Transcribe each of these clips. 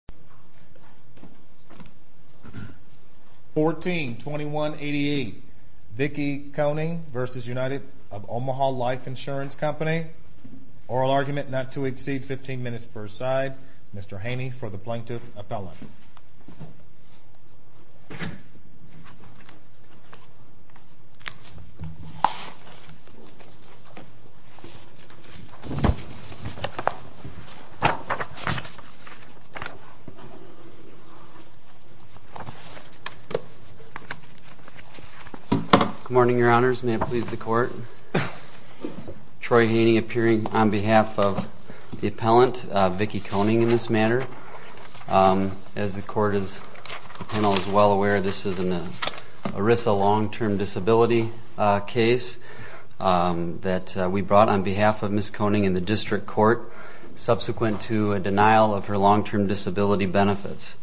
company. Oral argument no side. Mr Haney for the p Good morning, your honors. May it please the court. Troy Haney appearing on behalf of the appellant, Vicki Koning, in this matter. As the court is well aware, this is an ERISA long-term disability case that we brought on behalf of Ms. Koning in the district court subsequent to a denial of her long-term disability benefits.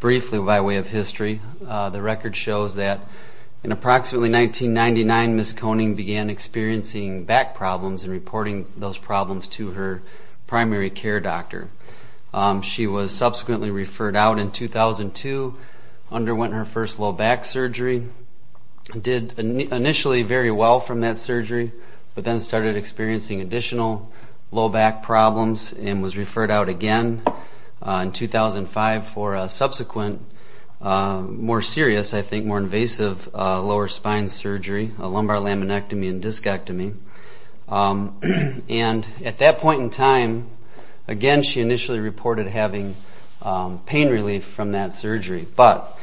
Briefly by way of history, the record shows that in approximately 1999, Ms. Koning began experiencing back problems and reporting those problems to her primary care doctor. She was subsequently referred out in 2002, underwent her first low back surgery, did initially very well from that surgery, but then started experiencing additional low back problems and was referred out again in 2005 for a subsequent, more serious, I think, more invasive lower spine surgery, a lumbar laminectomy and discectomy. And at that point in time, again, she initially reported having pain relief from that surgery, but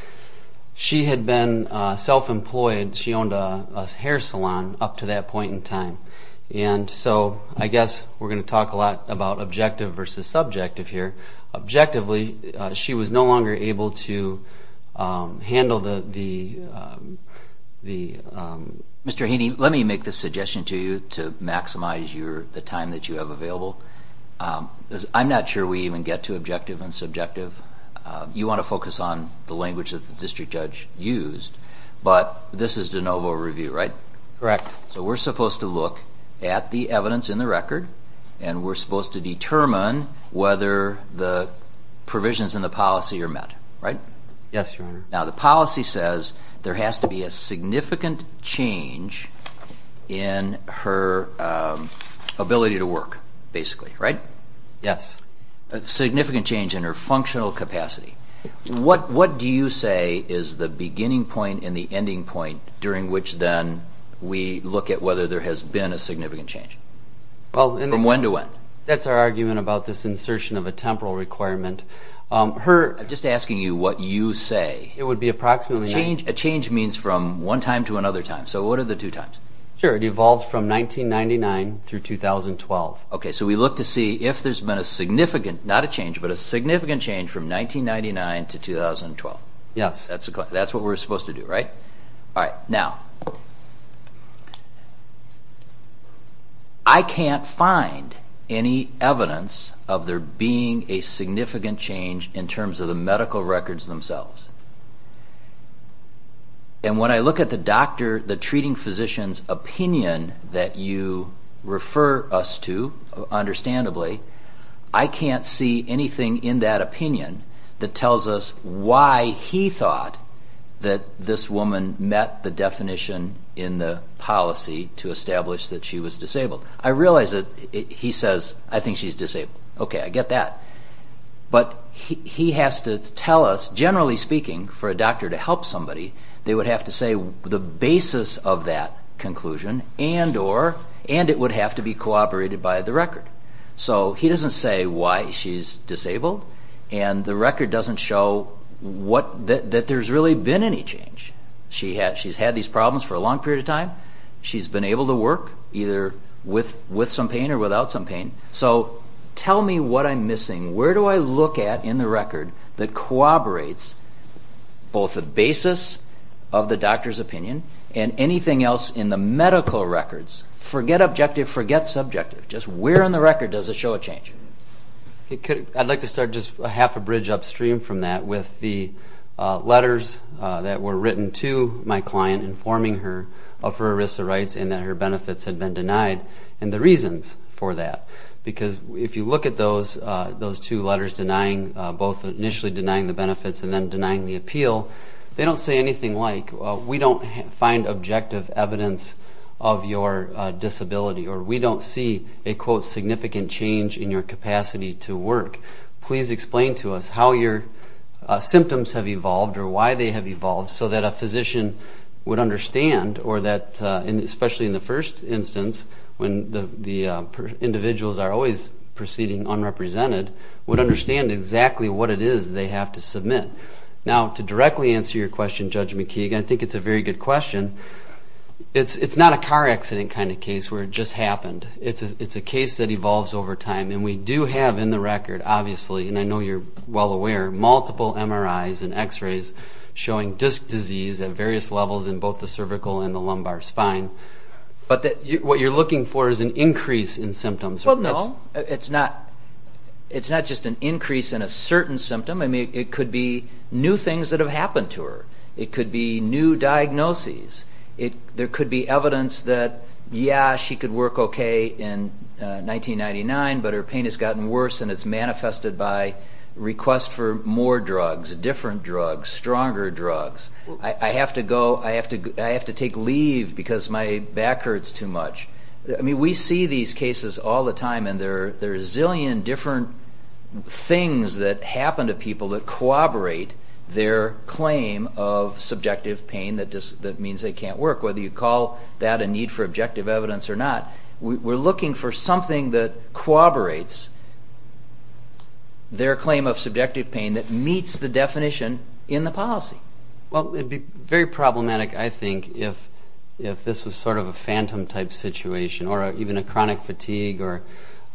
she had been self-employed. She owned a hair salon up to that point in time. And so I guess we're going to talk a lot about objective versus subjective here. Objectively, she was no longer able to handle the... Mr. Haney, let me make this suggestion to you to maximize the time that you have available. I'm not sure we even get to objective and subjective. You want to focus on the language that the district judge used, but this is de novo review, right? Correct. So we're supposed to look at the evidence in the record and we're supposed to determine whether the provisions in the policy are met, right? Yes, Your Honor. Now, the policy says there has to be a significant change in her ability to work, basically, right? Yes. A significant change in her functional capacity. What do you say is the beginning point and the ending point during which then we look at whether there has been a significant change? From when to when? That's our argument about this insertion of a temporal requirement. I'm just asking you what you say. It would be approximately... A change means from one time to another time. So what are the two times? Sure. It evolved from 1999 through 2012. We look to see if there's been a significant, not a change, but a significant change from 1999 to 2012. That's what we're supposed to do, right? I can't find any evidence of there being a significant change in terms of the medical records themselves. When I look at the treating physician's opinion that you refer us to, understandably, I can't see anything in that opinion that tells us why he thought that this woman met the definition in the policy to establish that she was disabled. I realize that he says, I think she's disabled. Okay, I get that. But he has to tell us, generally speaking, for a doctor to help somebody, they would have to say the basis of that conclusion and it would have to be cooperated by the record. So he doesn't say why she's disabled and the record doesn't show that there's really been any change. She's had these problems for a long period of time. She's been able to work, either with some pain or without some pain. So tell me what I'm missing. Where do I look at in the record that corroborates both the basis of the doctor's opinion and anything else in the medical records? Forget objective, forget subjective. Just where on the record does it show a change? I'd like to start just half a bridge upstream from that with the letters that were written to my client informing her of her ERISA rights and that her benefits had been denied and the reasons for that. Because if you look at those two letters, both initially denying the benefits and then denying the appeal, they don't say anything like, we don't find objective evidence of your disability or we don't see a quote significant change in your capacity to work. Please explain to us how your symptoms have evolved or why they have evolved so that a the individuals are always proceeding unrepresented would understand exactly what it is they have to submit. Now, to directly answer your question, Judge McKeague, I think it's a very good question. It's not a car accident kind of case where it just happened. It's a case that evolves over time and we do have in the record, obviously, and I know you're well aware, multiple MRIs and x-rays showing disc disease at various levels in both the cervical and the lumbar spine. But what you're looking for is an increase in symptoms. Well, no. It's not just an increase in a certain symptom. It could be new things that have happened to her. It could be new diagnoses. There could be evidence that, yeah, she could work okay in 1999, but her pain has gotten worse and it's manifested by request for more drugs, different drugs, stronger drugs. I have to go, I have to take leave because my back hurts too much. We see these cases all the time and there are a zillion different things that happen to people that corroborate their claim of subjective pain that means they can't work, whether you call that a need for objective evidence or not. We're looking for something that corroborates their claim of subjective pain that meets the definition in the policy. Well, it'd be very problematic, I think, if this was sort of a phantom type situation or even a chronic fatigue or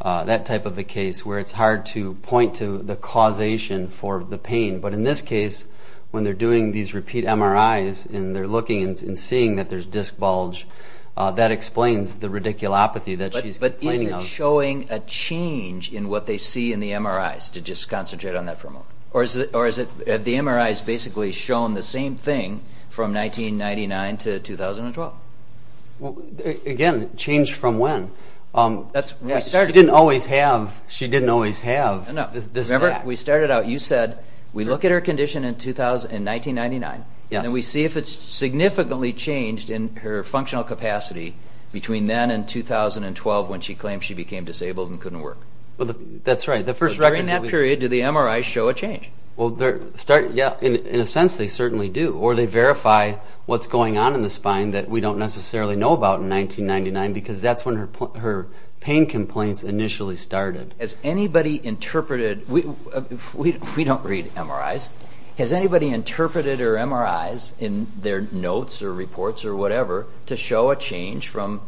that type of a case where it's hard to point to the causation for the pain. But in this case, when they're doing these repeat MRIs and they're looking and seeing that there's disc bulge, that explains the radiculopathy that she's complaining of. But is it showing a change in what they see in the MRIs, to just concentrate on that for a while? Or have the MRIs basically shown the same thing from 1999 to 2012? Again, change from when? She didn't always have this back. We started out, you said, we look at her condition in 1999 and we see if it's significantly changed in her functional capacity between then and 2012 when she claimed she became disabled and couldn't work. That's right. During that period, do the MRIs show a change? Well, in a sense, they certainly do. Or they verify what's going on in the spine that we don't necessarily know about in 1999 because that's when her pain complaints initially started. Has anybody interpreted, we don't read MRIs, has anybody interpreted her MRIs in their notes or reports or whatever to show a change from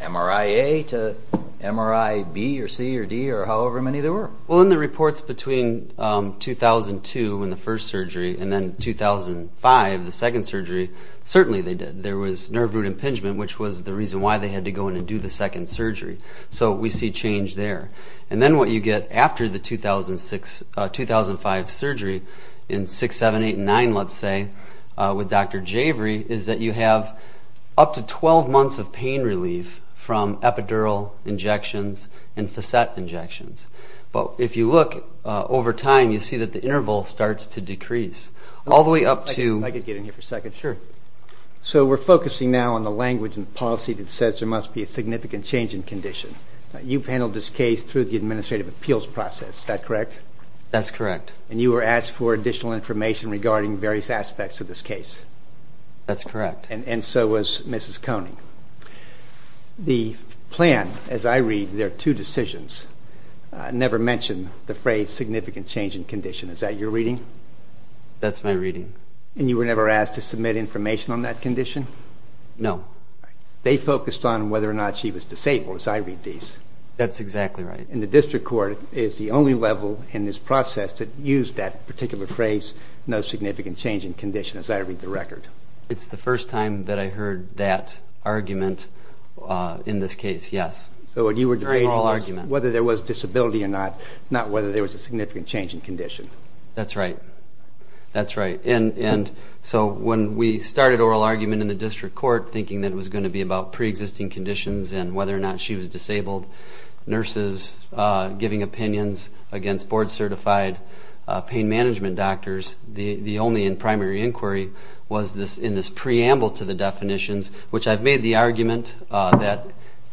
MRI A to MRI B or C or D or however many there were? Well, in the reports between 2002 in the first surgery and then 2005, the second surgery, certainly they did. There was nerve root impingement, which was the reason why they had to go in and do the second surgery. So we see change there. And then what you get after the 2005 surgery in 6, 7, 8, and 9, let's say, with Dr. Javery is that you have up to 12 months of pain relief from epidural injections and facet injections. But if you look over time, you see that the interval starts to decrease all the way up to... If I could get in here for a second. Sure. So we're focusing now on the language and policy that says there must be a significant change in condition. You've handled this case through the administrative appeals process, is that correct? That's correct. And you were asked for additional information regarding various aspects of this case? That's correct. And so was Mrs. Koenig. The plan, as I read, there are two decisions, never mention the phrase significant change in condition. Is that your reading? That's my reading. And you were never asked to submit information on that condition? No. They focused on whether or not she was disabled, as I read these. That's exactly right. And the district court is the only level in this process that used that particular phrase, no significant change in condition, as I read the record. It's the first time that I heard that argument in this case, yes. So what you were deferring was whether there was disability or not, not whether there was a significant change in condition. That's right. That's right. And so when we started oral argument in the district court, thinking that it was going to be about pre-existing conditions and whether or not she was disabled, nurses giving opinions against board-certified pain management doctors, the only in primary inquiry was in this preamble to the definitions, which I've made the argument that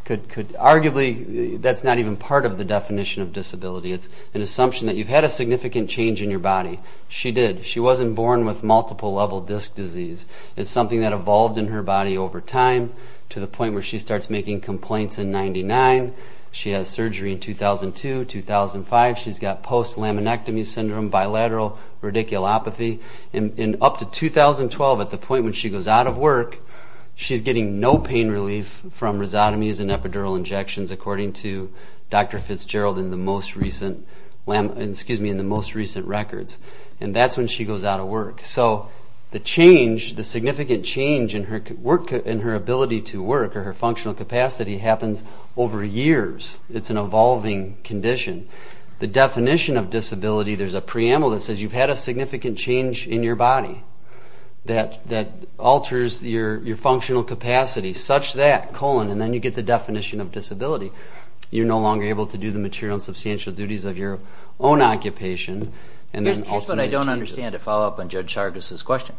could arguably, that's not even part of the definition of disability. It's an assumption that you've had a significant change in your body. She did. She wasn't born with multiple level disc disease. It's something that evolved in her body over time to the point where she starts making complaints in 99. She had surgery in 2002, 2005. She's got post-laminectomy syndrome, bilateral radiculopathy. In up to 2012, at the point when she goes out of work, she's getting no pain relief from rhizotomies and epidural injections according to Dr. Fitzgerald in the most recent records. And that's when she goes out of work. So the change, the significant change in her work, in her ability to work or her functional capacity happens over years. It's an evolving condition. The definition of disability, there's a preamble that says you've had a significant change in your body that alters your functional capacity, such that colon, and then you get the definition of disability. You're no longer able to do the material and substantial duties of your own occupation. Here's what I don't understand to follow up on Judge Sargas' question.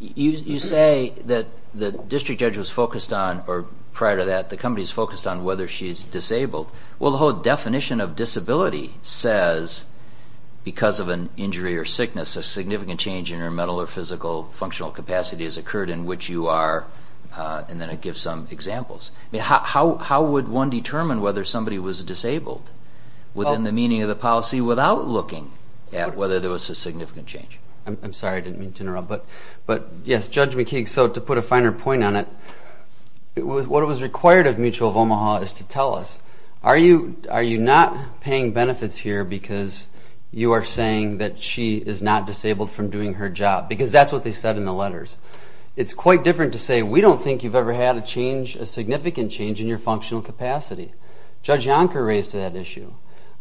You say that the district judge was focused on, or prior to that, the company's focused on whether she's disabled. Well, the whole definition of disability says because of an injury or sickness, a significant change in her mental or physical functional capacity has occurred in which you are, and then it gives some examples. How would one determine whether somebody was disabled within the meaning of the policy without looking at whether there was a significant change? I'm sorry, I didn't mean to interrupt, but yes, Judge McKee, so to put a finer point on it, what was required of Mutual of Omaha is to tell us, are you not paying benefits here because you are saying that she is not disabled from doing her job? Because that's what they said in the letters. It's quite different to say, we don't think you've ever had a change, a significant change in your functional capacity. Judge Yonker raised that issue.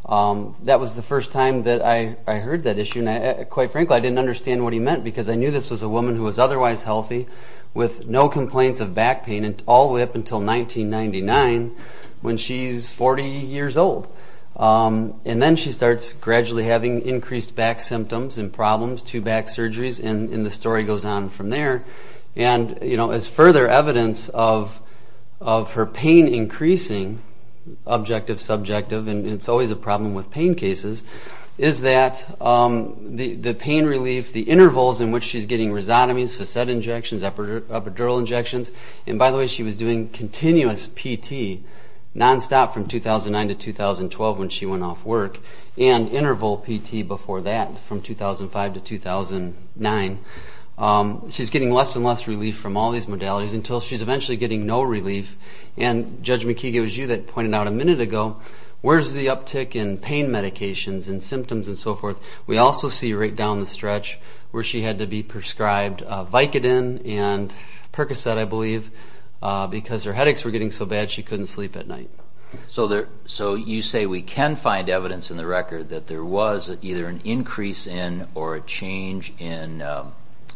That was the first time that I heard that issue, and quite frankly, I didn't understand what he meant, because I knew this was a woman who was otherwise healthy with no complaints of back pain all the way up until 1999 when she's 40 years old, and then she starts gradually having increased back symptoms and problems, two back surgeries, and the story goes on from there. And as further evidence of her pain increasing, objective, subjective, and it's always a problem with pain cases, is that the pain relief, the intervals in which she's getting rhizotomies, facet injections, epidural injections, and by the way, she was doing continuous PT, nonstop from 2009 to 2012 when she went off work, and interval PT before that from 2005 to 2009. She's getting less and less relief from all these modalities until she's eventually getting no relief, and Judge McKee gave us you that pointed out a minute ago, where's the uptick in pain medications and symptoms and so forth? We also see right down the stretch where she had to be prescribed Vicodin and Percocet, I believe, because her headaches were getting so bad she couldn't sleep at night. So you say we can find evidence in the record that there was either an increase in or a decrease in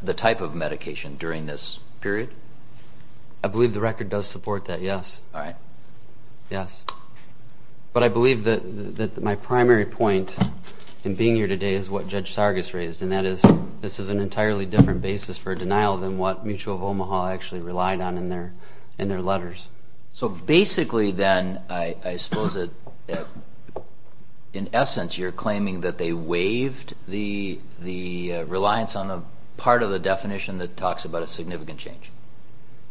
the type of medication during this period? I believe the record does support that, yes. But I believe that my primary point in being here today is what Judge Sargas raised, and that is this is an entirely different basis for denial than what Mutual of Omaha actually relied on in their letters. So basically then, I suppose that in essence you're claiming that they waived the reliance on a part of the definition that talks about a significant change.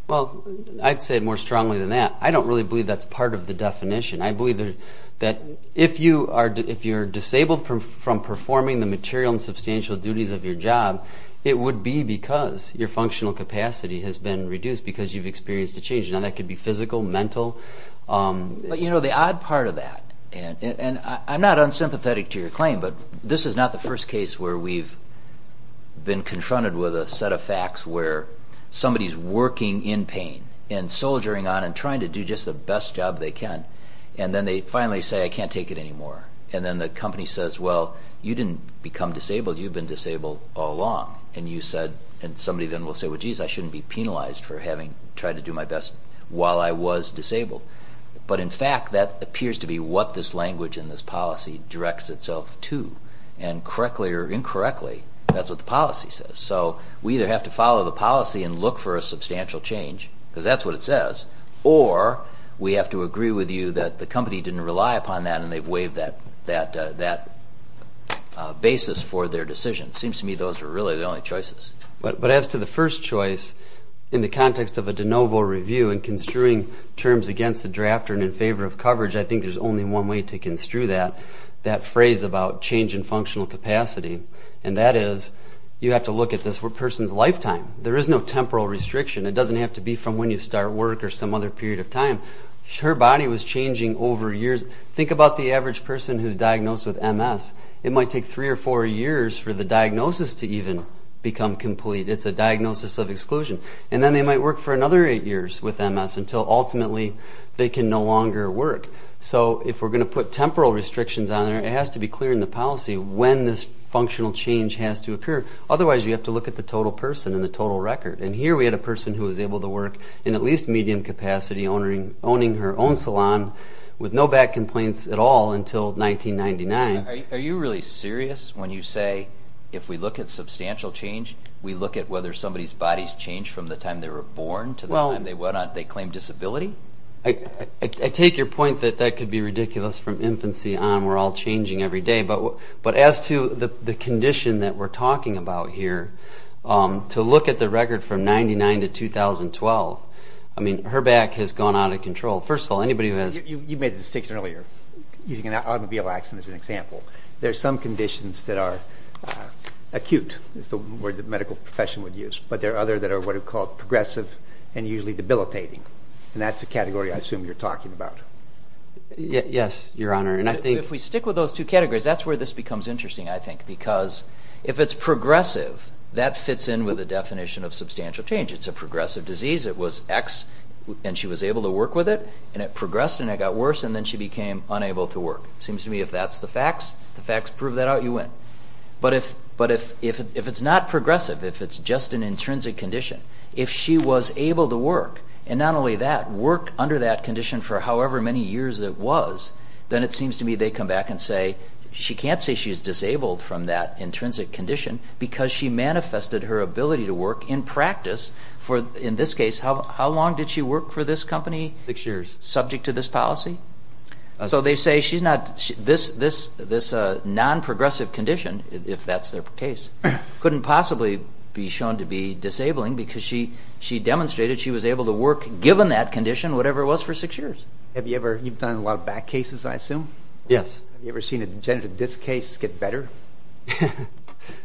Well, I'd say more strongly than that. I don't really believe that's part of the definition. I believe that if you're disabled from performing the material and substantial duties of your job, it would be because your functional capacity has been reduced because you've experienced a change. Now that could be physical, mental. But you know, the odd part of that, and I'm not unsympathetic to your claim, but this is not the first case where we've been confronted with a set of facts where somebody's working in pain and soldiering on and trying to do just the best job they can, and then they finally say, I can't take it anymore. And then the company says, well, you didn't become disabled. You've been disabled all along. And you said, and somebody then will say, well, geez, I shouldn't be penalized for having tried to do my best while I was disabled. But in fact, that appears to be what this language and this policy directs itself to. And correctly or incorrectly, that's what the policy says. So we either have to follow the policy and look for a substantial change, because that's what it says, or we have to agree with you that the company didn't rely upon that and they've waived that basis for their decision. Seems to me those are really the only choices. But as to the first choice, in the context of a de novo review and construing terms against the drafter and in favor of coverage, I think there's only one way to construe that, that phrase about change in functional capacity. And that is, you have to look at this person's lifetime. There is no temporal restriction. It doesn't have to be from when you start work or some other period of time. Her body was changing over years. Think about the average person who's diagnosed with MS. It might take three or four years for the diagnosis to even become complete. It's a diagnosis of exclusion. And then they might work for another eight years with MS until ultimately they can no longer work. So if we're going to put temporal restrictions on there, it has to be clear in the policy when this functional change has to occur. Otherwise, you have to look at the total person and the total record. And here we had a person who was able to work in at least medium capacity, owning her own salon with no back complaints at all until 1999. Are you really serious when you say, if we look at substantial change, we look at whether somebody's body's changed from the time they were born to the time they went on? They claim disability? I take your point that that could be ridiculous from infancy on. We're all changing every day. But as to the condition that we're talking about here, to look at the record from 1999 to 2012, I mean, her back has gone out of control. First of all, anybody who has... You made the distinction earlier, using an automobile accident as an example. There's some conditions that are acute, is the word the medical profession would use. But there are other that are what are called progressive and usually debilitating. And that's the category I assume you're talking about. Yes, Your Honor. And I think... If we stick with those two categories, that's where this becomes interesting, I think. Because if it's progressive, that fits in with the definition of substantial change. It's a progressive disease. It was X, and she was able to work with it, and it progressed, and it got worse, and then she became unable to work. Seems to me if that's the facts, the facts prove that out, you win. But if it's not progressive, if it's just an intrinsic condition, if she was able to work, and not only that, work under that condition for however many years it was, then it seems to me they come back and say, she can't say she's disabled from that intrinsic condition because she manifested her ability to work in practice for, in this case, how long did she work for this company? Six years. Subject to this policy? So they say she's not... This non-progressive condition, if that's their case, couldn't possibly be shown to be disabling because she demonstrated she was able to work given that condition, whatever it was, for six years. Have you ever... You've done a lot of back cases, I assume? Yes. Have you ever seen a degenerative disc case get better?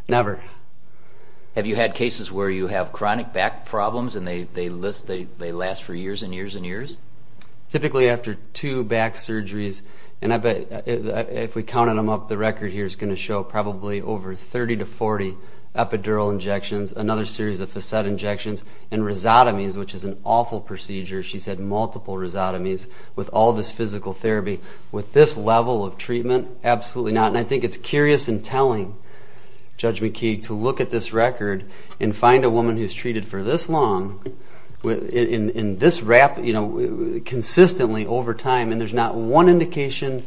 Never. Have you had cases where you have chronic back problems and they last for years and years and years? Typically after two back surgeries, and I bet if we counted them up, the record here is going to show probably over 30 to 40 epidural injections, another series of facet injections, and rhizotomies, which is an awful procedure. She's had multiple rhizotomies with all this physical therapy. With this level of treatment, absolutely not. And I think it's curious and telling, Judge McKee, to look at this record and find a woman who's treated for this long, consistently over time, and there's not one indication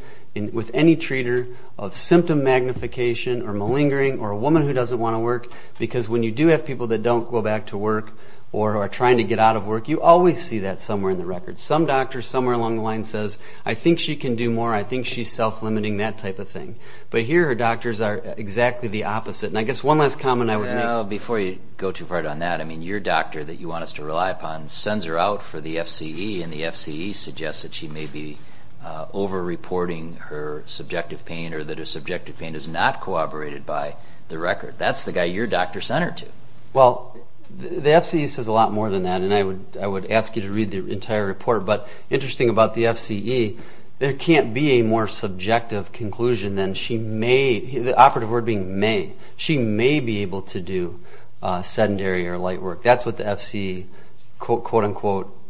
with any treater of symptom magnification or malingering or a woman who doesn't want to work, because when you do have people that don't go back to work or are trying to get out of work, you always see that somewhere in the record. Some doctor somewhere along the line says, I think she can do more, I think she's self-limiting, that type of thing. But here, her doctors are exactly the opposite. And I guess one last comment I would make. Before you go too far down that, I mean, your doctor that you want us to rely upon sends her out for the FCE, and the FCE suggests that she may be over-reporting her subjective pain or that her subjective pain is not corroborated by the record. That's the guy your doctor sent her to. Well, the FCE says a lot more than that, and I would ask you to read the entire report. But interesting about the FCE, there can't be a more subjective conclusion than she may, the operative word being may, she may be able to do sedentary or light work. That's what the FCE, quote unquote,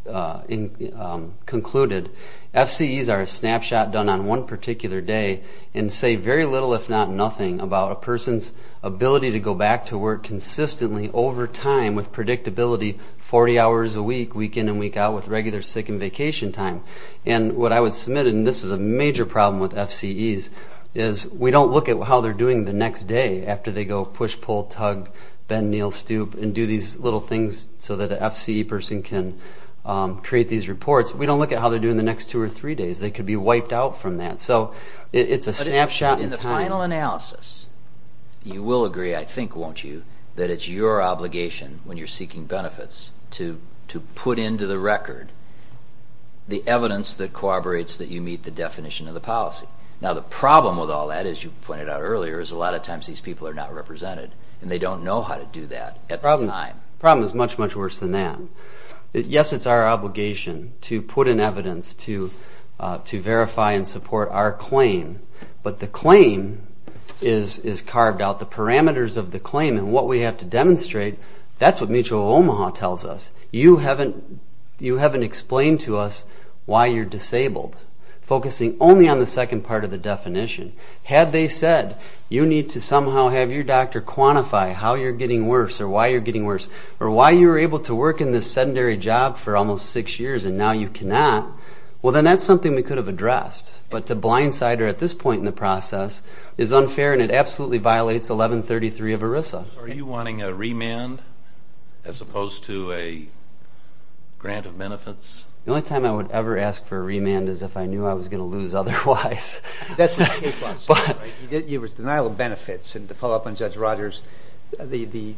concluded. FCEs are a snapshot done on one particular day and say very little, if not nothing, about a person's ability to go back to work consistently over time with predictability 40 hours a week, week in and week out, with regular sick and vacation time. And what I would submit, and this is a major problem with FCEs, is we don't look at how they're doing the next day after they go push, pull, tug, bend, kneel, stoop, and do these little things so that the FCE person can create these reports. We don't look at how they're doing the next two or three days. They could be wiped out from that. So it's a snapshot in time. If you look at the analysis, you will agree, I think, won't you, that it's your obligation when you're seeking benefits to put into the record the evidence that corroborates that you meet the definition of the policy. Now the problem with all that, as you pointed out earlier, is a lot of times these people are not represented, and they don't know how to do that at the time. The problem is much, much worse than that. Yes, it's our obligation to put in evidence to verify and support our claim. But the claim is carved out, the parameters of the claim, and what we have to demonstrate, that's what Mutual of Omaha tells us. You haven't explained to us why you're disabled, focusing only on the second part of the definition. Had they said, you need to somehow have your doctor quantify how you're getting worse or why you're getting worse, or why you were able to work in this sedentary job for almost six years and now you cannot, well then that's something we could have addressed. But to blindside her at this point in the process is unfair and it absolutely violates 1133 of ERISA. Are you wanting a remand as opposed to a grant of benefits? The only time I would ever ask for a remand is if I knew I was going to lose otherwise. That's what the case law says, right? It was denial of benefits, and to follow up on Judge Rogers, it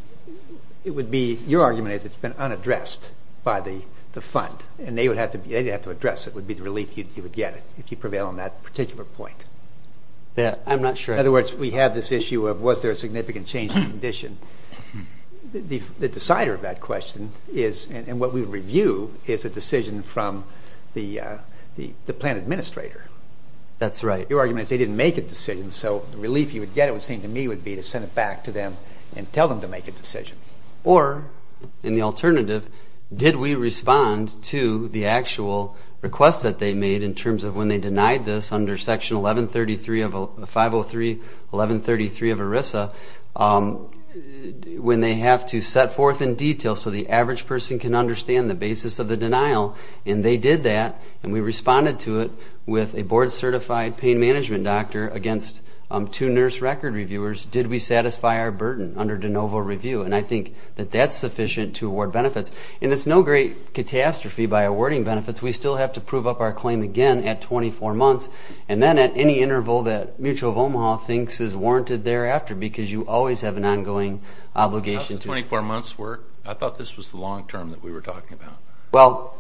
would be, your argument is it's been unaddressed by the fund, and they would have to address it would be the on that particular point. Yeah, I'm not sure. In other words, we have this issue of was there a significant change in condition. The decider of that question is, and what we review, is a decision from the plan administrator. That's right. Your argument is they didn't make a decision, so the relief you would get, it would seem to me, would be to send it back to them and tell them to make a decision. Or in the alternative, did we respond to the actual request that they made in terms of when they denied this under Section 1133 of 503, 1133 of ERISA, when they have to set forth in detail so the average person can understand the basis of the denial, and they did that, and we responded to it with a board-certified pain management doctor against two nurse record reviewers, did we satisfy our burden under de novo review? I think that that's sufficient to award benefits. It's no great catastrophe by awarding benefits. We still have to prove up our claim again at 24 months, and then at any interval that Mutual of Omaha thinks is warranted thereafter, because you always have an ongoing obligation to... How's the 24 months work? I thought this was the long-term that we were talking about. Well,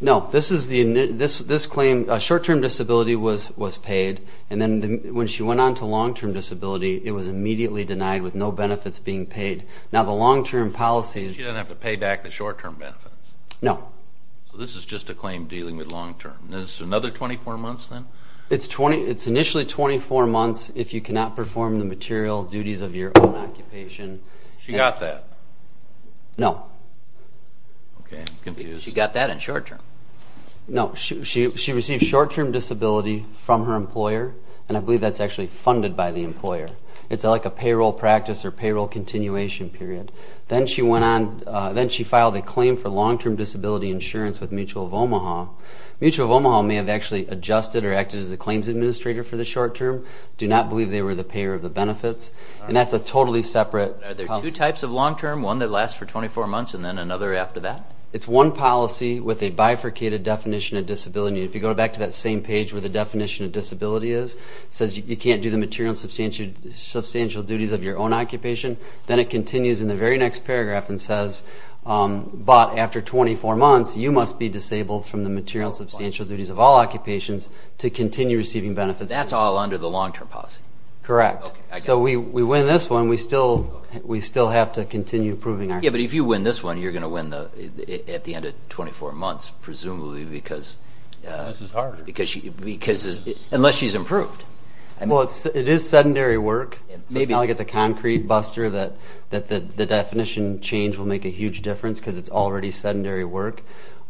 no. This claim, short-term disability was paid, and then when she went on to long-term disability, it was immediately denied with no benefits being paid. Now, the long-term policy... She didn't have to pay back the short-term benefits. No. This is just a claim dealing with long-term. Is this another 24 months, then? It's initially 24 months if you cannot perform the material duties of your own occupation. She got that? No. Okay, I'm confused. She got that in short-term? No. She received short-term disability from her employer, and I believe that's actually funded by the employer. It's like a payroll practice or payroll continuation period. Then she filed a claim for long-term disability insurance with Mutual of Omaha. Mutual of Omaha may have actually adjusted or acted as the claims administrator for the short-term. I do not believe they were the payer of the benefits, and that's a totally separate policy. Are there two types of long-term? One that lasts for 24 months, and then another after that? It's one policy with a bifurcated definition of disability. If you go back to that same page where the definition of disability is, it says you can't do the material and substantial duties of your own occupation. Then it continues in the very next paragraph and says, but after 24 months, you must be disabled from the material and substantial duties of all occupations to continue receiving benefits. That's all under the long-term policy? Correct. So we win this one. We still have to continue proving our claim. Yeah, but if you win this one, you're going to win at the end of 24 months, presumably because unless she's improved. Well, it is sedentary work. So it's not like it's a concrete buster that the definition change will make a huge difference because it's already sedentary work.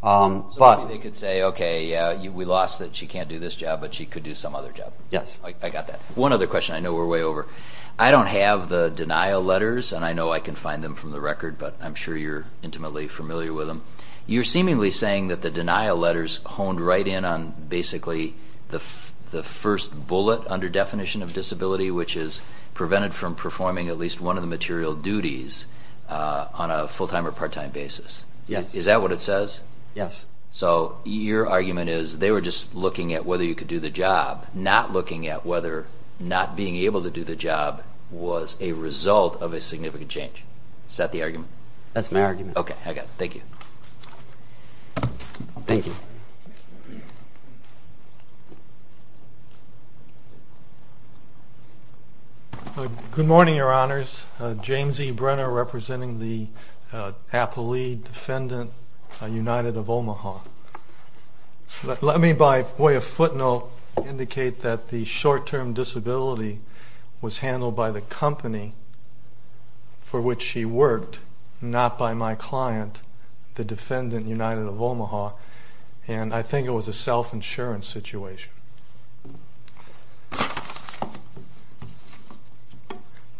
So they could say, okay, yeah, we lost that she can't do this job, but she could do some other job. Yes. I got that. One other question. I know we're way over. I don't have the denial letters, and I know I can find them from the record, but I'm sure you're intimately familiar with them. You're seemingly saying that the denial letters honed right in on basically the first bullet under definition of disability, which is prevented from performing at least one of the material duties on a full-time or part-time basis. Is that what it says? Yes. So your argument is they were just looking at whether you could do the job, not looking at whether not being able to do the job was a result of a significant change. Is that the argument? That's my argument. Okay, I got it. Thank you. Thank you. Good morning, Your Honors. James E. Brenner representing the Apple Lead Defendant United of Omaha. Let me by way of footnote indicate that the short-term disability was handled by the company for which he worked, not by my client, the Defendant United of Omaha, and I think it was a self-insurance situation.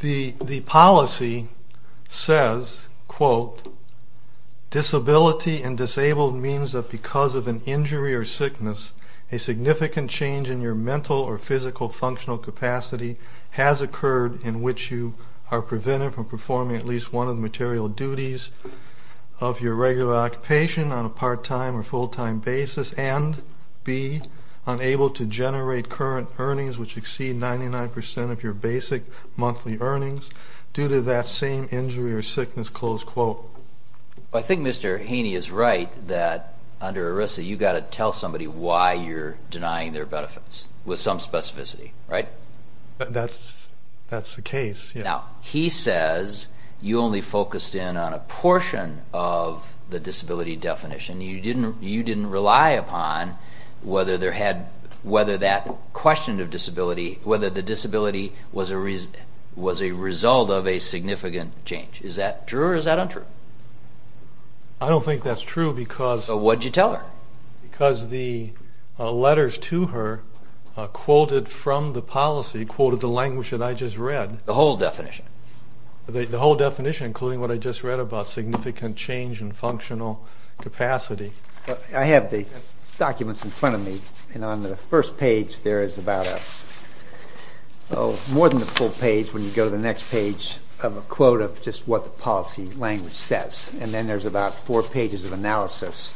The policy says, quote, disability and disabled means that because of an injury or sickness, a significant change in your mental or physical functional capacity has occurred in which you are prevented from performing at least one of the material duties of your regular occupation on a part-time or full-time basis and be unable to generate current earnings which exceed 99% of your basic monthly earnings due to that same injury or sickness, close quote. I think Mr. Haney is right that under ERISA you've got to tell somebody why you're denying their benefits with some specificity, right? That's the case, yeah. Now, he says you only focused in on a portion of the disability definition. You didn't rely upon whether that question of disability, whether the disability was a result of a significant change. Is that true or is that untrue? I don't think that's true because... What did you tell her? Because the letters to her quoted from the policy, quoted the language that I just read. The whole definition? The whole definition, including what I just read about significant change in functional capacity. I have the documents in front of me and on the first page there is about a, more than the full page when you go to the next page, of a quote of just what the policy language says. Then there's about four pages of analysis.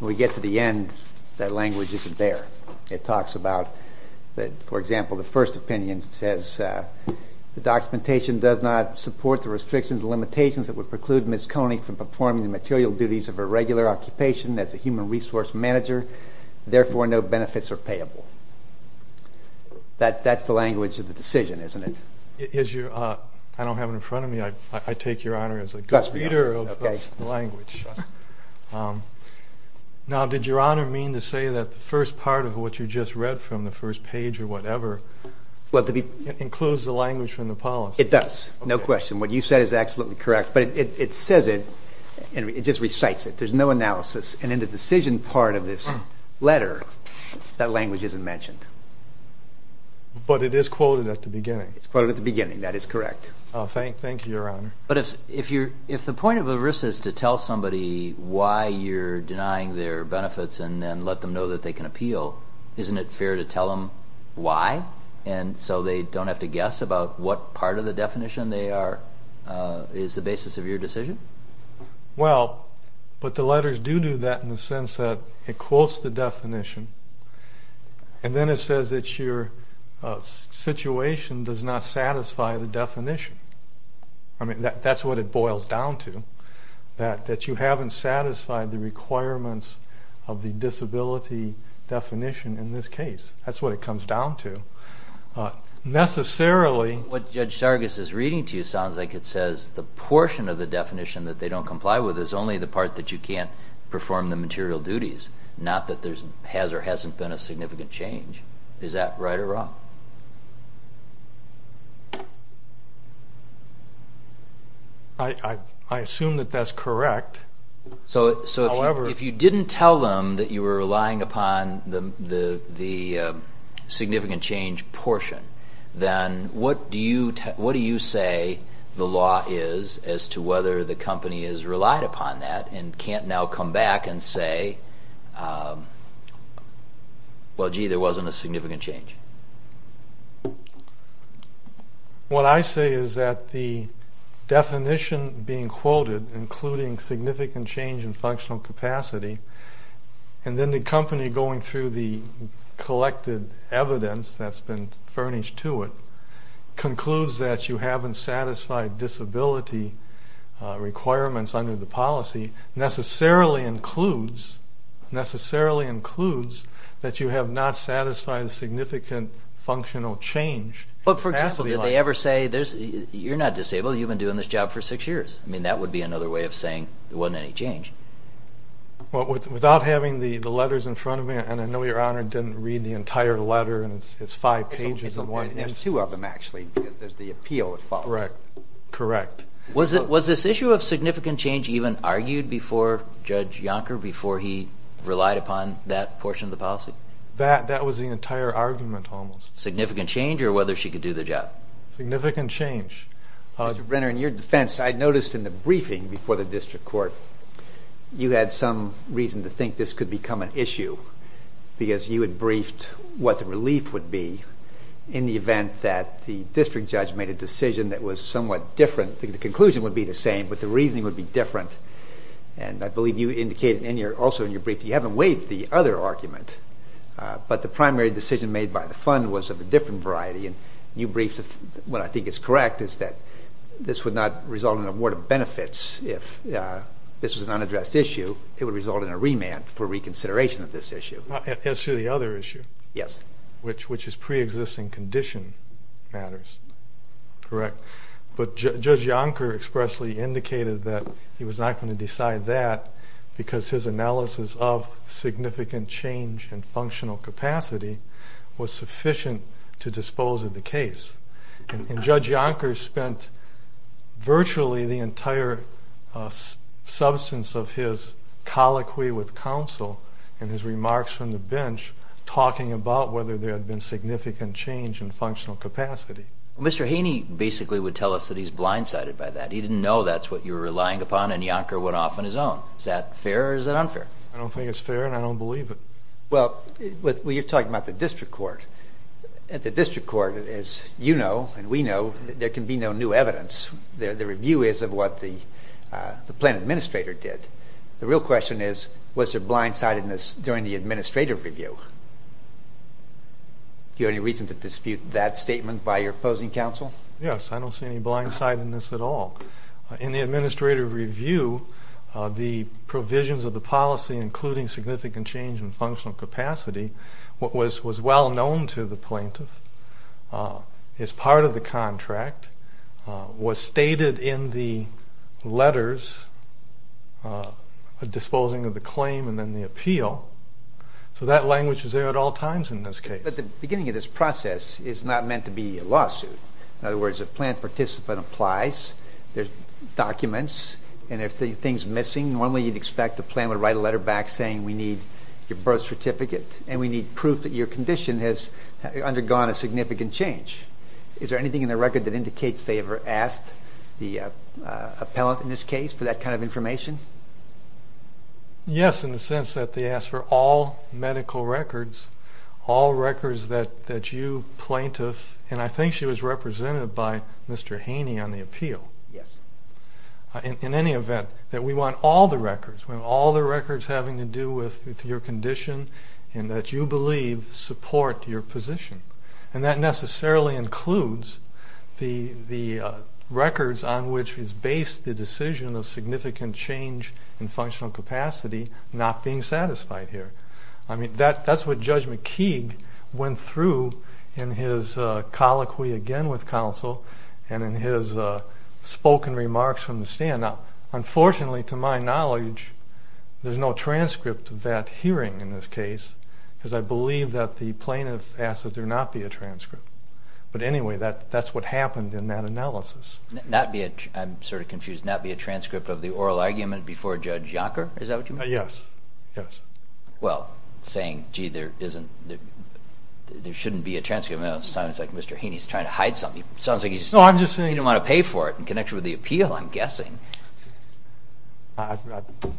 We get to the end, that language isn't there. It talks about, for example, the first opinion says the documentation does not support the restrictions and limitations that would preclude Ms. Koenig from performing the material duties of a regular occupation as a human resource manager, therefore no benefits are payable. That's the language of the decision, isn't it? I don't have it in front of me. I take your honor as a good reader of the language. Now did your honor mean to say that the first part of what you just read from the first page or whatever includes the language from the policy? It does. No question. What you said is absolutely correct. But it says it and it just recites it. There's no analysis. And in the decision part of this letter, that language isn't mentioned. But it is quoted at the beginning. It's quoted at the beginning. That is correct. Thank you, your honor. But if the point of ERISA is to tell somebody why you're denying their benefits and then let them know that they can appeal, isn't it fair to tell them why? And so they don't have to guess about what part of the definition they are, is the basis of your decision? Well, but the letters do do that in the sense that it quotes the definition. And then it says that your situation does not satisfy the definition. I mean, that's what it boils down to. That you haven't satisfied the requirements of the disability definition in this case. That's what it comes down to. Necessarily. What Judge Sargas is reading to you sounds like it says the portion of the definition that they don't comply with is only the part that you can't perform the material duties. Not that there has or hasn't been a significant change. Is that right or wrong? I assume that that's correct. So if you didn't tell them that you were relying upon the significant change portion, then what do you say the law is as to whether the company has relied upon that and can't now come back and say, well, gee, there wasn't a significant change? What I say is that the definition being quoted, including significant change in functional capacity, and then the company going through the collected evidence that's been furnished to it, concludes that you haven't satisfied disability requirements under the policy, necessarily includes that you have not satisfied a significant functional change. But for example, did they ever say, you're not disabled, you've been doing this job for six years. That would be another way of saying there wasn't any change. Without having the letters in front of me, and I know your Honor didn't read the entire letter and it's five pages. There's two of them, actually, because there's the appeal that follows. Correct. Was this issue of significant change even argued before Judge Yonker, before he relied upon that portion of the policy? That was the entire argument, almost. Significant change, or whether she could do the job? Significant change. Mr. Brenner, in your defense, I noticed in the briefing before the district court, you had some reason to think this could become an issue, because you had briefed what the conclusion would be the same, but the reasoning would be different. And I believe you indicated also in your brief that you haven't weighed the other argument, but the primary decision made by the fund was of a different variety, and you briefed what I think is correct, is that this would not result in an award of benefits if this was an unaddressed issue. It would result in a remand for reconsideration of this issue. As to the other issue, which is preexisting condition matters, correct? But Judge Yonker expressly indicated that he was not going to decide that, because his analysis of significant change in functional capacity was sufficient to dispose of the case. And Judge Yonker spent virtually the entire substance of his colloquy with counsel, and his remarks from the bench, talking about whether there had been significant change in functional capacity. Mr. Haney basically would tell us that he's blindsided by that. He didn't know that's what you were relying upon, and Yonker went off on his own. Is that fair or is that unfair? I don't think it's fair, and I don't believe it. Well, you're talking about the district court. The district court, as you know and we know, there can be no new evidence. The review is of what the plan administrator did. The real question is, was there blindsidedness during the administrative review? Do you have any reason to dispute that statement by your opposing counsel? Yes, I don't see any blindsidedness at all. In the administrative review, the provisions of the policy, including significant change in functional capacity, what was well known to the plaintiff, is part of the contract, was stated in the letters, disposing of the claim and then the appeal. So that language is there at all times in this case. But the beginning of this process is not meant to be a lawsuit. In other words, a plan participant applies, there's documents, and if anything's missing, normally you'd expect the plan would write a letter back saying we need your birth certificate and we need proof that your condition has undergone a significant change. Is there anything in the record that indicates they ever asked the appellant in this case for that kind of information? Yes, in the sense that they asked for all medical records, all records that you, plaintiff, and I think she was represented by Mr. Haney on the appeal, in any event, that we want all the records, we want all the records having to do with your condition and that you believe support your position. And that necessarily includes the records on which is based the decision of significant change in functional capacity not being satisfied here. I mean, that's what Judge McKeague went through in his colloquy again with counsel and in his spoken remarks from the stand. Now, unfortunately, to my knowledge, there's no transcript of that hearing in this case because I believe that the plaintiff asked that there not be a transcript. But anyway, that's what happened in that analysis. Not be a, I'm sort of confused, not be a transcript of the oral argument before Judge Yonker? Is that what you mean? Yes. Yes. Well, saying, gee, there isn't, there shouldn't be a transcript, sounds like Mr. Haney's trying to hide something. No, I'm just saying. You don't want to pay for it in connection with the appeal, I'm guessing.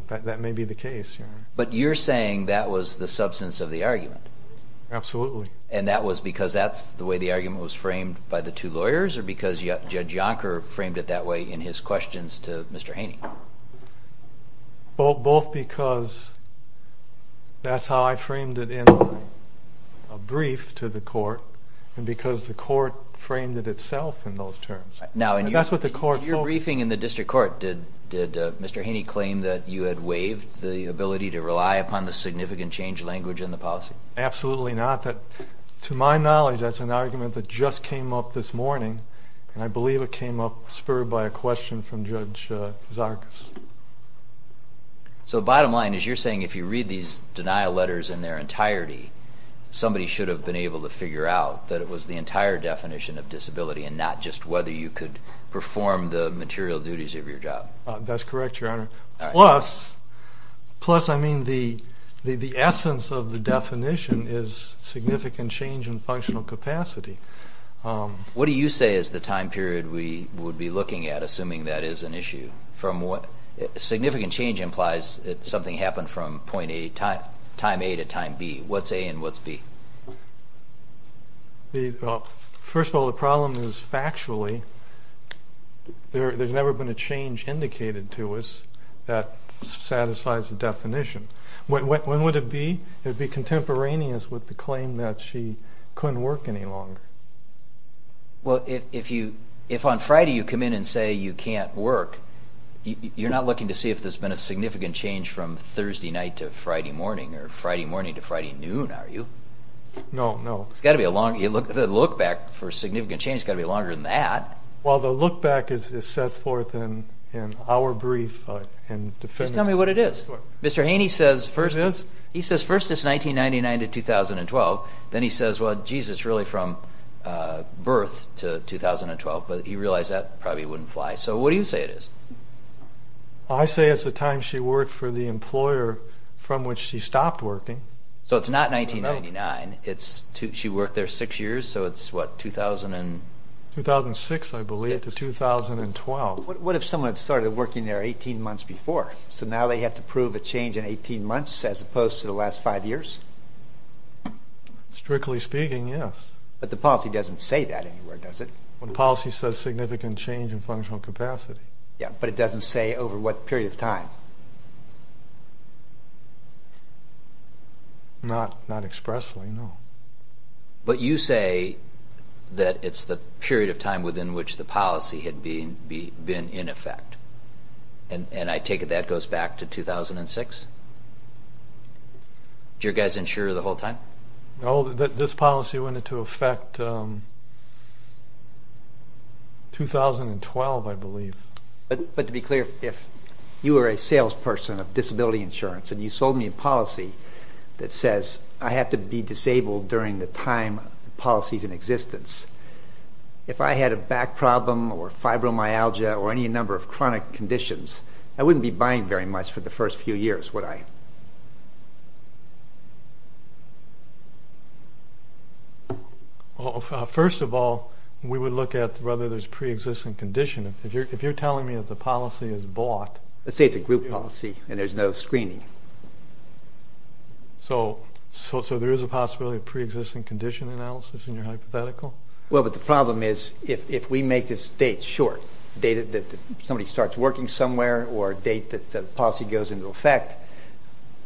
That may be the case. But you're saying that was the substance of the argument? Absolutely. And that was because that's the way the argument was framed by the two lawyers or because Judge Yonker framed it that way in his questions to Mr. Haney? Both because that's how I framed it in a brief to the court and because the court framed it itself in those terms. Now, in your briefing in the district court, did Mr. Haney claim that you had waived the ability to rely upon the significant change language in the policy? Absolutely not. That, to my knowledge, that's an argument that just came up this morning and I believe it came up spurred by a question from Judge Zarkas. So bottom line is you're saying if you read these denial letters in their entirety, somebody should have been able to figure out that it was the entire definition of disability and not just whether you could perform the material duties of your job? That's correct, Your Honor. All right. Plus, I mean, the essence of the definition is significant change in functional capacity. What do you say is the time period we would be looking at, assuming that is an issue? Significant change implies something happened from time A to time B. What's A and what's B? Well, first of all, the problem is factually there's never been a change indicated to us that satisfies the definition. When would it be? It would be contemporaneous with the claim that she couldn't work any longer. Well, if on Friday you come in and say you can't work, you're not looking to see if there's been a significant change from Thursday night to Friday morning or Friday morning to Friday noon, are you? No, no. It's got to be a long... The look back for significant change has got to be longer than that. Well the look back is set forth in our brief and definitive... Just tell me what it is. Sure. Mr. Haney says first... First it's 1999 to 2012. Then he says, well, geez, it's really from birth to 2012, but he realized that probably wouldn't fly. So what do you say it is? I say it's the time she worked for the employer from which she stopped working. So it's not 1999, it's... She worked there six years, so it's what, 2000 and... 2006, I believe, to 2012. What if someone had started working there 18 months before, so now they have to prove a change in 18 months as opposed to the last five years? Strictly speaking, yes. But the policy doesn't say that anywhere, does it? The policy says significant change in functional capacity. Yeah, but it doesn't say over what period of time? Not expressly, no. But you say that it's the period of time within which the policy had been in effect. And I take it that goes back to 2006? Did you guys insure the whole time? No, this policy went into effect 2012, I believe. But to be clear, if you were a salesperson of disability insurance and you sold me a policy that says I have to be disabled during the time the policy's in existence, if I had a back problem or fibromyalgia or any number of chronic conditions, I wouldn't be buying very much for the first few years, would I? First of all, we would look at whether there's pre-existing condition. If you're telling me that the policy is bought... Let's say it's a group policy and there's no screening. So there is a possibility of pre-existing condition analysis in your hypothetical? Well, but the problem is if we make this date short, date that somebody starts working somewhere or date that the policy goes into effect,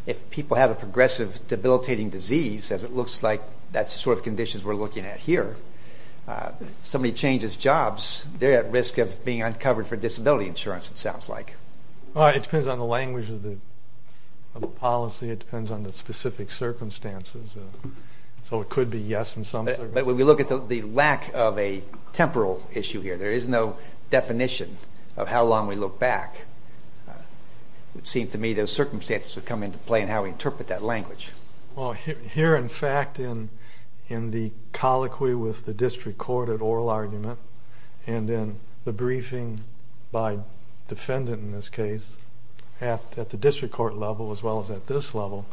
if people have a progressive debilitating disease as it looks like that's the sort of conditions we're looking at here, somebody changes jobs, they're at risk of being uncovered for disability insurance, it sounds like. It depends on the language of the policy, it depends on the specific circumstances. So it could be yes in some circumstances. But when we look at the lack of a temporal issue here, there is no definition of how long we look back. It seems to me those circumstances would come into play in how we interpret that language. Here in fact in the colloquy with the district court at oral argument and then the briefing by defendant in this case at the district court level as well as at this level,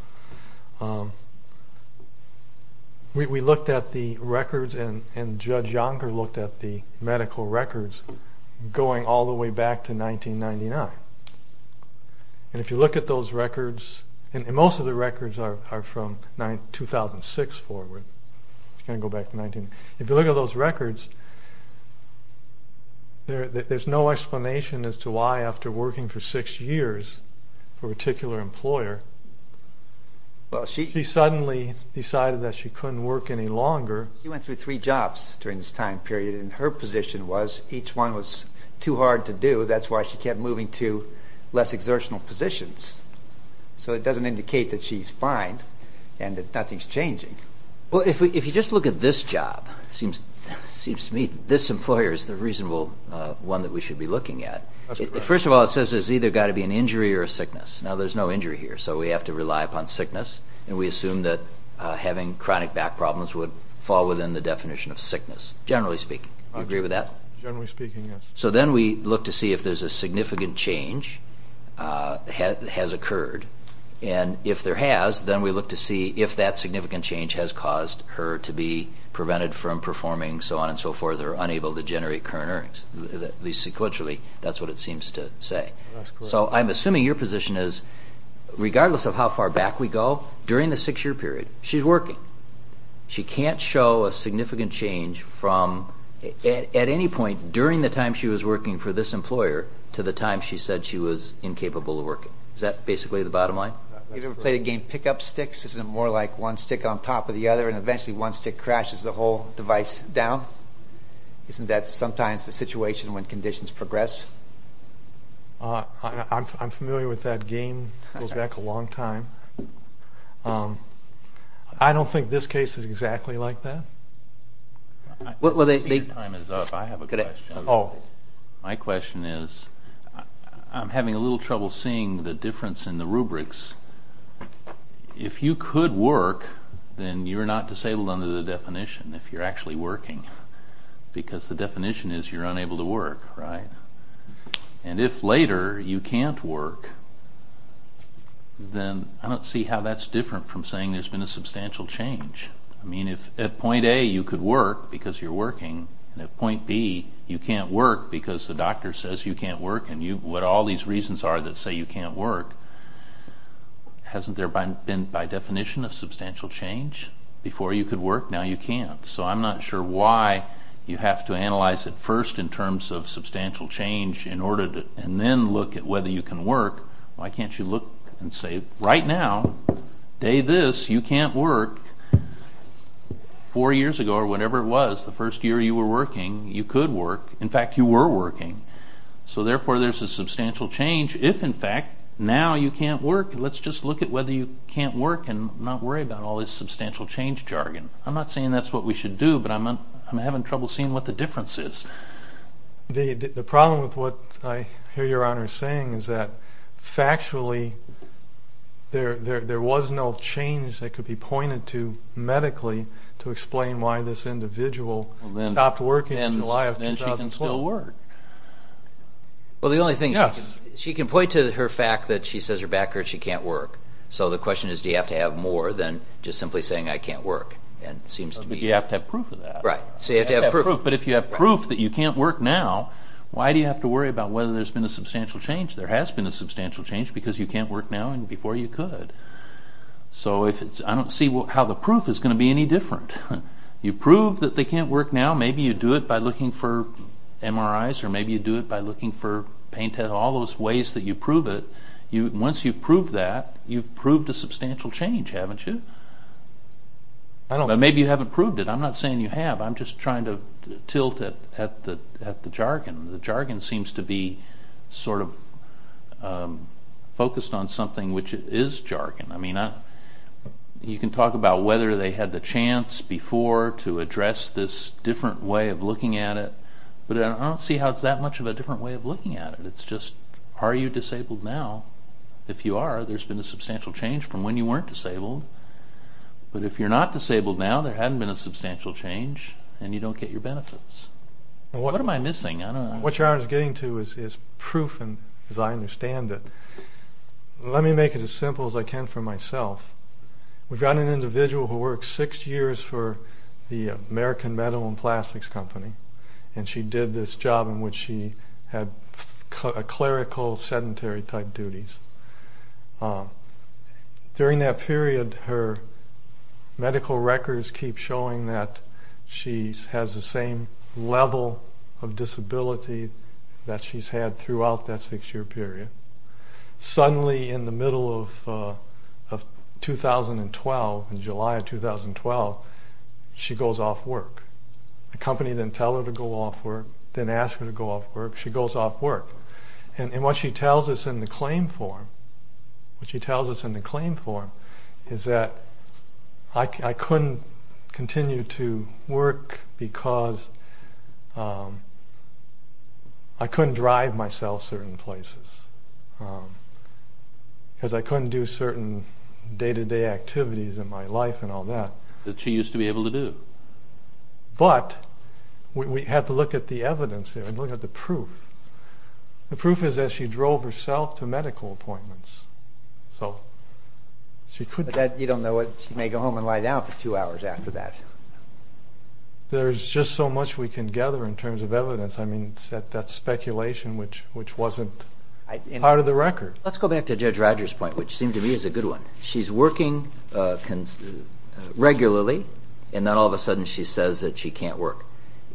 we looked at the records and Judge Yonker looked at the medical records going all the way back to 1999. If you look at those records, and most of the records are from 2006 forward, it's going to go back to 1999. If you look at those records, there's no explanation as to why after working for six years for longer. She went through three jobs during this time period and her position was each one was too hard to do. That's why she kept moving to less exertional positions. So it doesn't indicate that she's fine and that nothing's changing. If you just look at this job, it seems to me this employer is the reasonable one that we should be looking at. First of all, it says there's either got to be an injury or a sickness. Now there's no injury here, so we have to rely upon sickness and we assume that having chronic back problems would fall within the definition of sickness, generally speaking. Do you agree with that? Generally speaking, yes. So then we look to see if there's a significant change that has occurred and if there has, then we look to see if that significant change has caused her to be prevented from performing so on and so forth or unable to generate current earnings, at least sequentially, that's what it seems to say. So I'm assuming your position is regardless of how far back we go, during the six year period, she's working. She can't show a significant change from at any point during the time she was working for this employer to the time she said she was incapable of working. Is that basically the bottom line? You ever play the game pick up sticks? Isn't it more like one stick on top of the other and eventually one stick crashes the whole device down? Isn't that sometimes the situation when conditions progress? I'm familiar with that game. It goes back a long time. I don't think this case is exactly like that. My question is, I'm having a little trouble seeing the difference in the rubrics. If you could work, then you're not disabled under the definition if you're actually working because the definition is you're unable to work, right? And if later you can't work, then I don't see how that's different from saying there's been a substantial change. I mean if at point A you could work because you're working and at point B you can't work because the doctor says you can't work and what all these reasons are that say you can't work, hasn't there been by definition a substantial change? Before you could work, now you can't. So I'm not sure why you have to analyze it first in terms of substantial change and then look at whether you can work. Why can't you look and say right now, day this, you can't work, four years ago or whatever it was, the first year you were working, you could work, in fact you were working. So therefore there's a substantial change if in fact now you can't work. Let's just look at whether you can't work and not worry about all this substantial change jargon. I'm not saying that's what we should do, but I'm having trouble seeing what the difference is. The problem with what I hear your Honor saying is that factually there was no change that could be pointed to medically to explain why this individual stopped working in July of 2012. Then she can still work. Yes. Well the only thing, she can point to her fact that she says her back hurts, she can't work. So the question is do you have to have more than just simply saying I can't work. Do you have to have proof of that? Right. So you have to have proof. But if you have proof that you can't work now, why do you have to worry about whether there's been a substantial change? There has been a substantial change because you can't work now and before you could. So I don't see how the proof is going to be any different. You prove that they can't work now, maybe you do it by looking for MRIs or maybe you do it by looking for pain tests, all those ways that you prove it. Once you prove that, you've proved a substantial change, haven't you? Maybe you haven't proved it. I'm not saying you have. I'm just trying to tilt it at the jargon. The jargon seems to be sort of focused on something which is jargon. You can talk about whether they had the chance before to address this different way of looking at it, but I don't see how it's that much of a different way of looking at it. Are you disabled now? If you are, there's been a substantial change from when you weren't disabled. But if you're not disabled now, there hasn't been a substantial change and you don't get your benefits. What am I missing? What you're getting to is proof, as I understand it. Let me make it as simple as I can for myself. We've got an individual who worked six years for the American Metal and Plastics Company and she did this job in which she had clerical sedentary type duties. During that period, her medical records keep showing that she has the same level of disability that she's had throughout that six year period. Suddenly in the middle of 2012, in July of 2012, she goes off work. The company didn't tell her to go off work, didn't ask her to go off work. She goes off work. What she tells us in the claim form is that I couldn't continue to work because I couldn't drive myself certain places, because I couldn't do certain day-to-day activities in my life and all that. That she used to be able to do. But we have to look at the evidence here and look at the proof. The proof is that she drove herself to medical appointments. But you don't know what, she may go home and lie down for two hours after that. There's just so much we can gather in terms of evidence. I mean, that's speculation which wasn't part of the record. Let's go back to Judge Rogers' point, which seemed to me is a good one. She's working regularly and then all of a sudden she says that she can't work.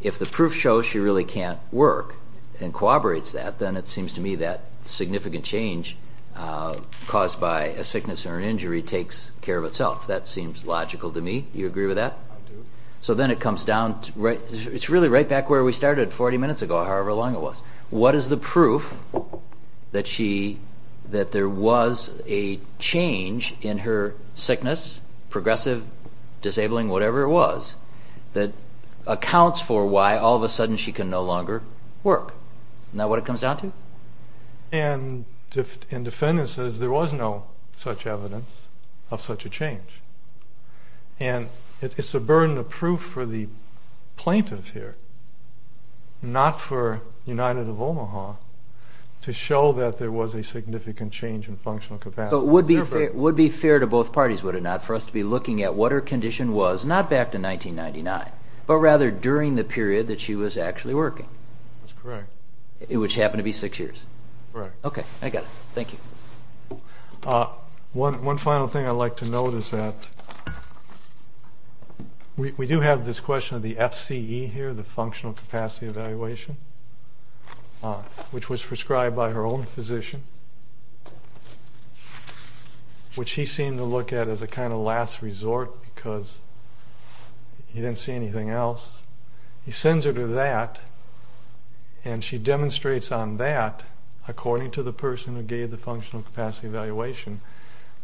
If the proof shows she really can't work and corroborates that, then it seems to me that significant change caused by a sickness or an injury takes care of itself. That seems logical to me. You agree with that? I do. So then it comes down. It's really right back where we started 40 minutes ago, however long it was. What is the proof that there was a change in her sickness, progressive, disabling, whatever it was, that accounts for why all of a sudden she can no longer work? Isn't that what it comes down to? And the defendant says there was no such evidence of such a change. And it's a burden of proof for the plaintiff here, not for United of Omaha, to show that there was a significant change in functional capacity. Would be fair to both parties, would it not, for us to be looking at what her condition was not back to 1999, but rather during the period that she was actually working? That's correct. Which happened to be six years. Correct. Okay, I got it. Thank you. One final thing I'd like to note is that we do have this question of the FCE here, the functional capacity evaluation, which was prescribed by her own physician, which he seemed to look at as a kind of last resort because he didn't see anything else. He sends her to that, and she demonstrates on that, according to the person who gave the functional capacity evaluation,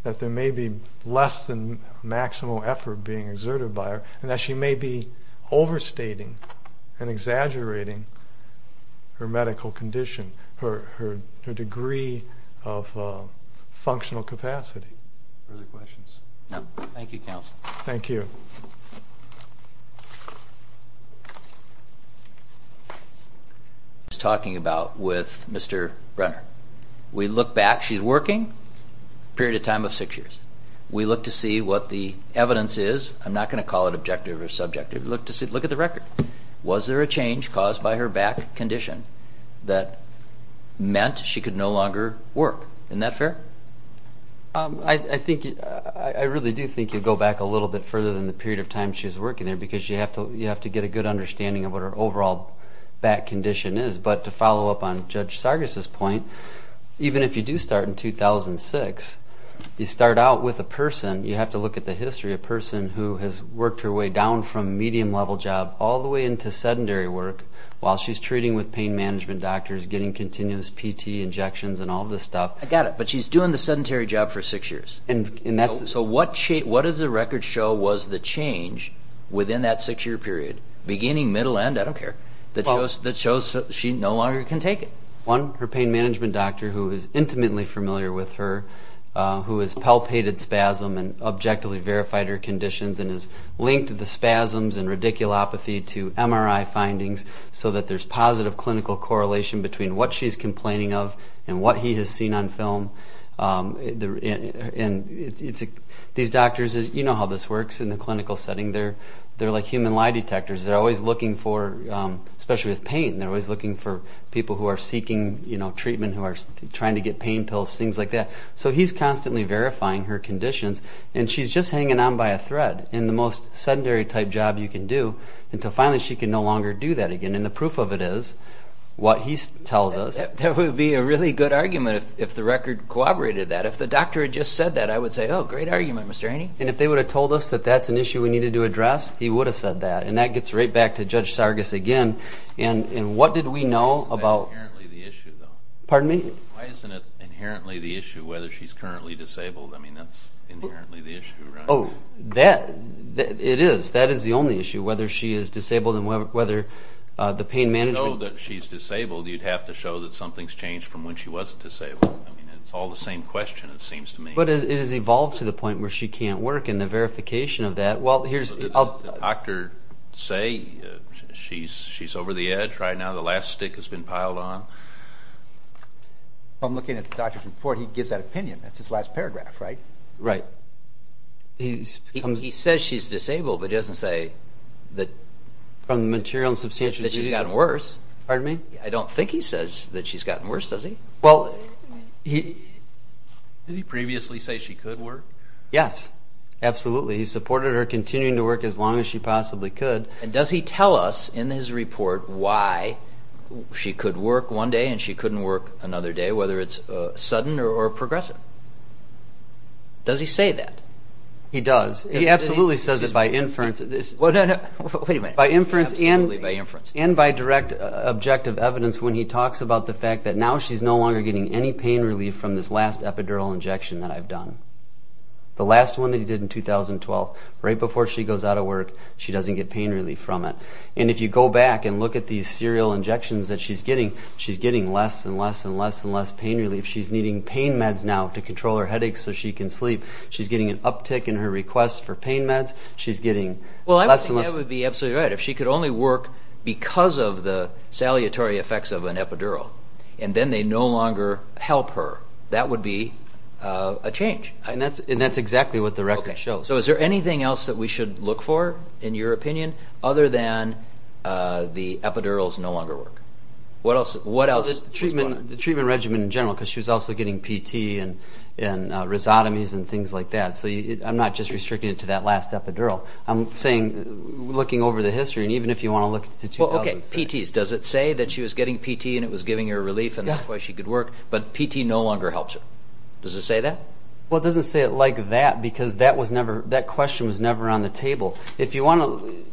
that there may be less than maximal effort being exerted by her, and that she may be overstating and exaggerating her medical condition, her degree of functional capacity. Further questions? Thank you, counsel. Thank you. What are we talking about with Mr. Brenner? We look back, she's working, period of time of six years. We look to see what the evidence is. I'm not going to call it objective or subjective. Look at the record. Was there a change caused by her back condition that meant she could no longer work? Isn't that fair? I really do think you go back a little bit further than the period of time she was working there because you have to get a good understanding of what her overall back condition is. But to follow up on Judge Sargas' point, even if you do start in 2006, you start out with a person, you have to look at the history, a person who has worked her way down from medium level job all the way into sedentary work while she's treating with pain management doctors, getting continuous PT injections and all this stuff. I got it. But she's doing the sedentary job for six years. So what does the record show was the change within that six-year period, beginning, middle, end, I don't care, that shows she no longer can take it? One, her pain management doctor who is intimately familiar with her, who has palpated spasm and objectively verified her conditions and has linked the spasms and radiculopathy to MRI findings so that there's positive clinical correlation between what she's complaining of and what he has seen on film. These doctors, you know how this works in the clinical setting, they're like human lie detectors. They're always looking for, especially with pain, they're always looking for people who are seeking treatment, who are trying to get pain pills, things like that. So he's constantly verifying her conditions and she's just hanging on by a thread in the most sedentary type job you can do until finally she can no longer do that again. And the proof of it is what he tells us. That would be a really good argument if the record corroborated that. If the doctor had just said that, I would say, oh, great argument, Mr. Haney. And if they would have told us that that's an issue we needed to address, he would have said that. And that gets right back to Judge Sargis again. And what did we know about- Isn't that inherently the issue, though? Pardon me? Why isn't it inherently the issue whether she's currently disabled? I mean, that's inherently the issue, right? Oh, it is. That is the only issue, whether she is disabled and whether the pain management- If you know that she's disabled, you'd have to show that something's changed from when she wasn't disabled. I mean, it's all the same question, it seems to me. But it has evolved to the point where she can't work and the verification of that- Well, here's- Did the doctor say she's over the edge right now? The last stick has been piled on? I'm looking at the doctor's report. He gives that opinion. That's his last paragraph, right? Right. He says she's disabled, but he doesn't say that from the material and substantial use She's gotten worse. Pardon me? I don't think he says that she's gotten worse, does he? Well, he- Did he previously say she could work? Yes. Absolutely. He supported her continuing to work as long as she possibly could. And does he tell us in his report why she could work one day and she couldn't work another day, whether it's sudden or progressive? Does he say that? He does. He absolutely says it by inference. Well, no, no. Wait a minute. By inference and- Well, that's why I direct objective evidence when he talks about the fact that now she's no longer getting any pain relief from this last epidural injection that I've done. The last one that he did in 2012, right before she goes out of work, she doesn't get pain relief from it. And if you go back and look at these serial injections that she's getting, she's getting less and less and less and less pain relief. She's needing pain meds now to control her headaches so she can sleep. She's getting an uptick in her requests for pain meds. She's getting less and less- Well, I don't think that would be absolutely right. If she could only work because of the saliatory effects of an epidural and then they no longer help her, that would be a change. And that's exactly what the record shows. So is there anything else that we should look for, in your opinion, other than the epidurals no longer work? What else- The treatment regimen in general, because she was also getting PT and rhizotomies and things like that. So I'm not just restricting it to that last epidural. I'm saying, looking over the history, and even if you want to look to 2006- Okay, PT. Does it say that she was getting PT and it was giving her relief and that's why she could work? But PT no longer helps her. Does it say that? Well, it doesn't say it like that because that question was never on the table. If you want to-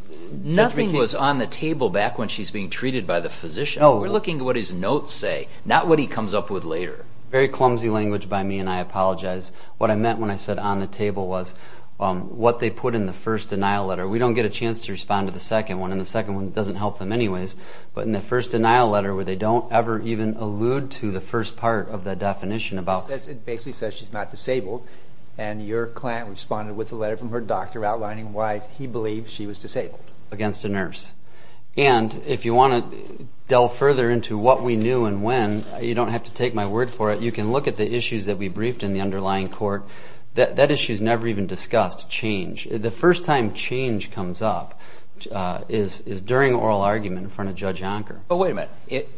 Nothing was on the table back when she's being treated by the physician. We're looking at what his notes say, not what he comes up with later. Very clumsy language by me, and I apologize. What I meant when I said on the table was what they put in the first denial letter. We don't get a chance to respond to the second one, and the second one doesn't help them anyways. But in the first denial letter, where they don't ever even allude to the first part of the definition about- It basically says she's not disabled, and your client responded with a letter from her doctor outlining why he believes she was disabled. Against a nurse. And if you want to delve further into what we knew and when, you don't have to take my word for it. But you can look at the issues that we briefed in the underlying court. That issue's never even discussed, change. The first time change comes up is during oral argument in front of Judge Anker. But wait a minute.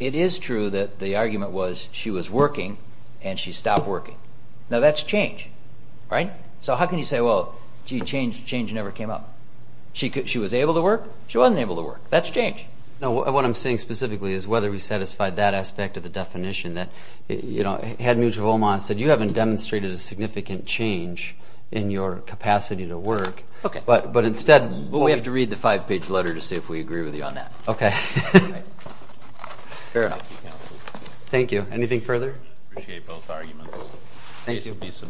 It is true that the argument was she was working, and she stopped working. Now that's change, right? So how can you say, well, change never came up? She was able to work? She wasn't able to work. That's change. No, what I'm saying specifically is whether we satisfied that aspect of the definition that, you know, had neutral OMA and said, you haven't demonstrated a significant change in your capacity to work. But instead- Well, we have to read the five-page letter to see if we agree with you on that. Okay. Fair enough. Thank you. Thank you. Anything further? Appreciate both arguments. Thank you.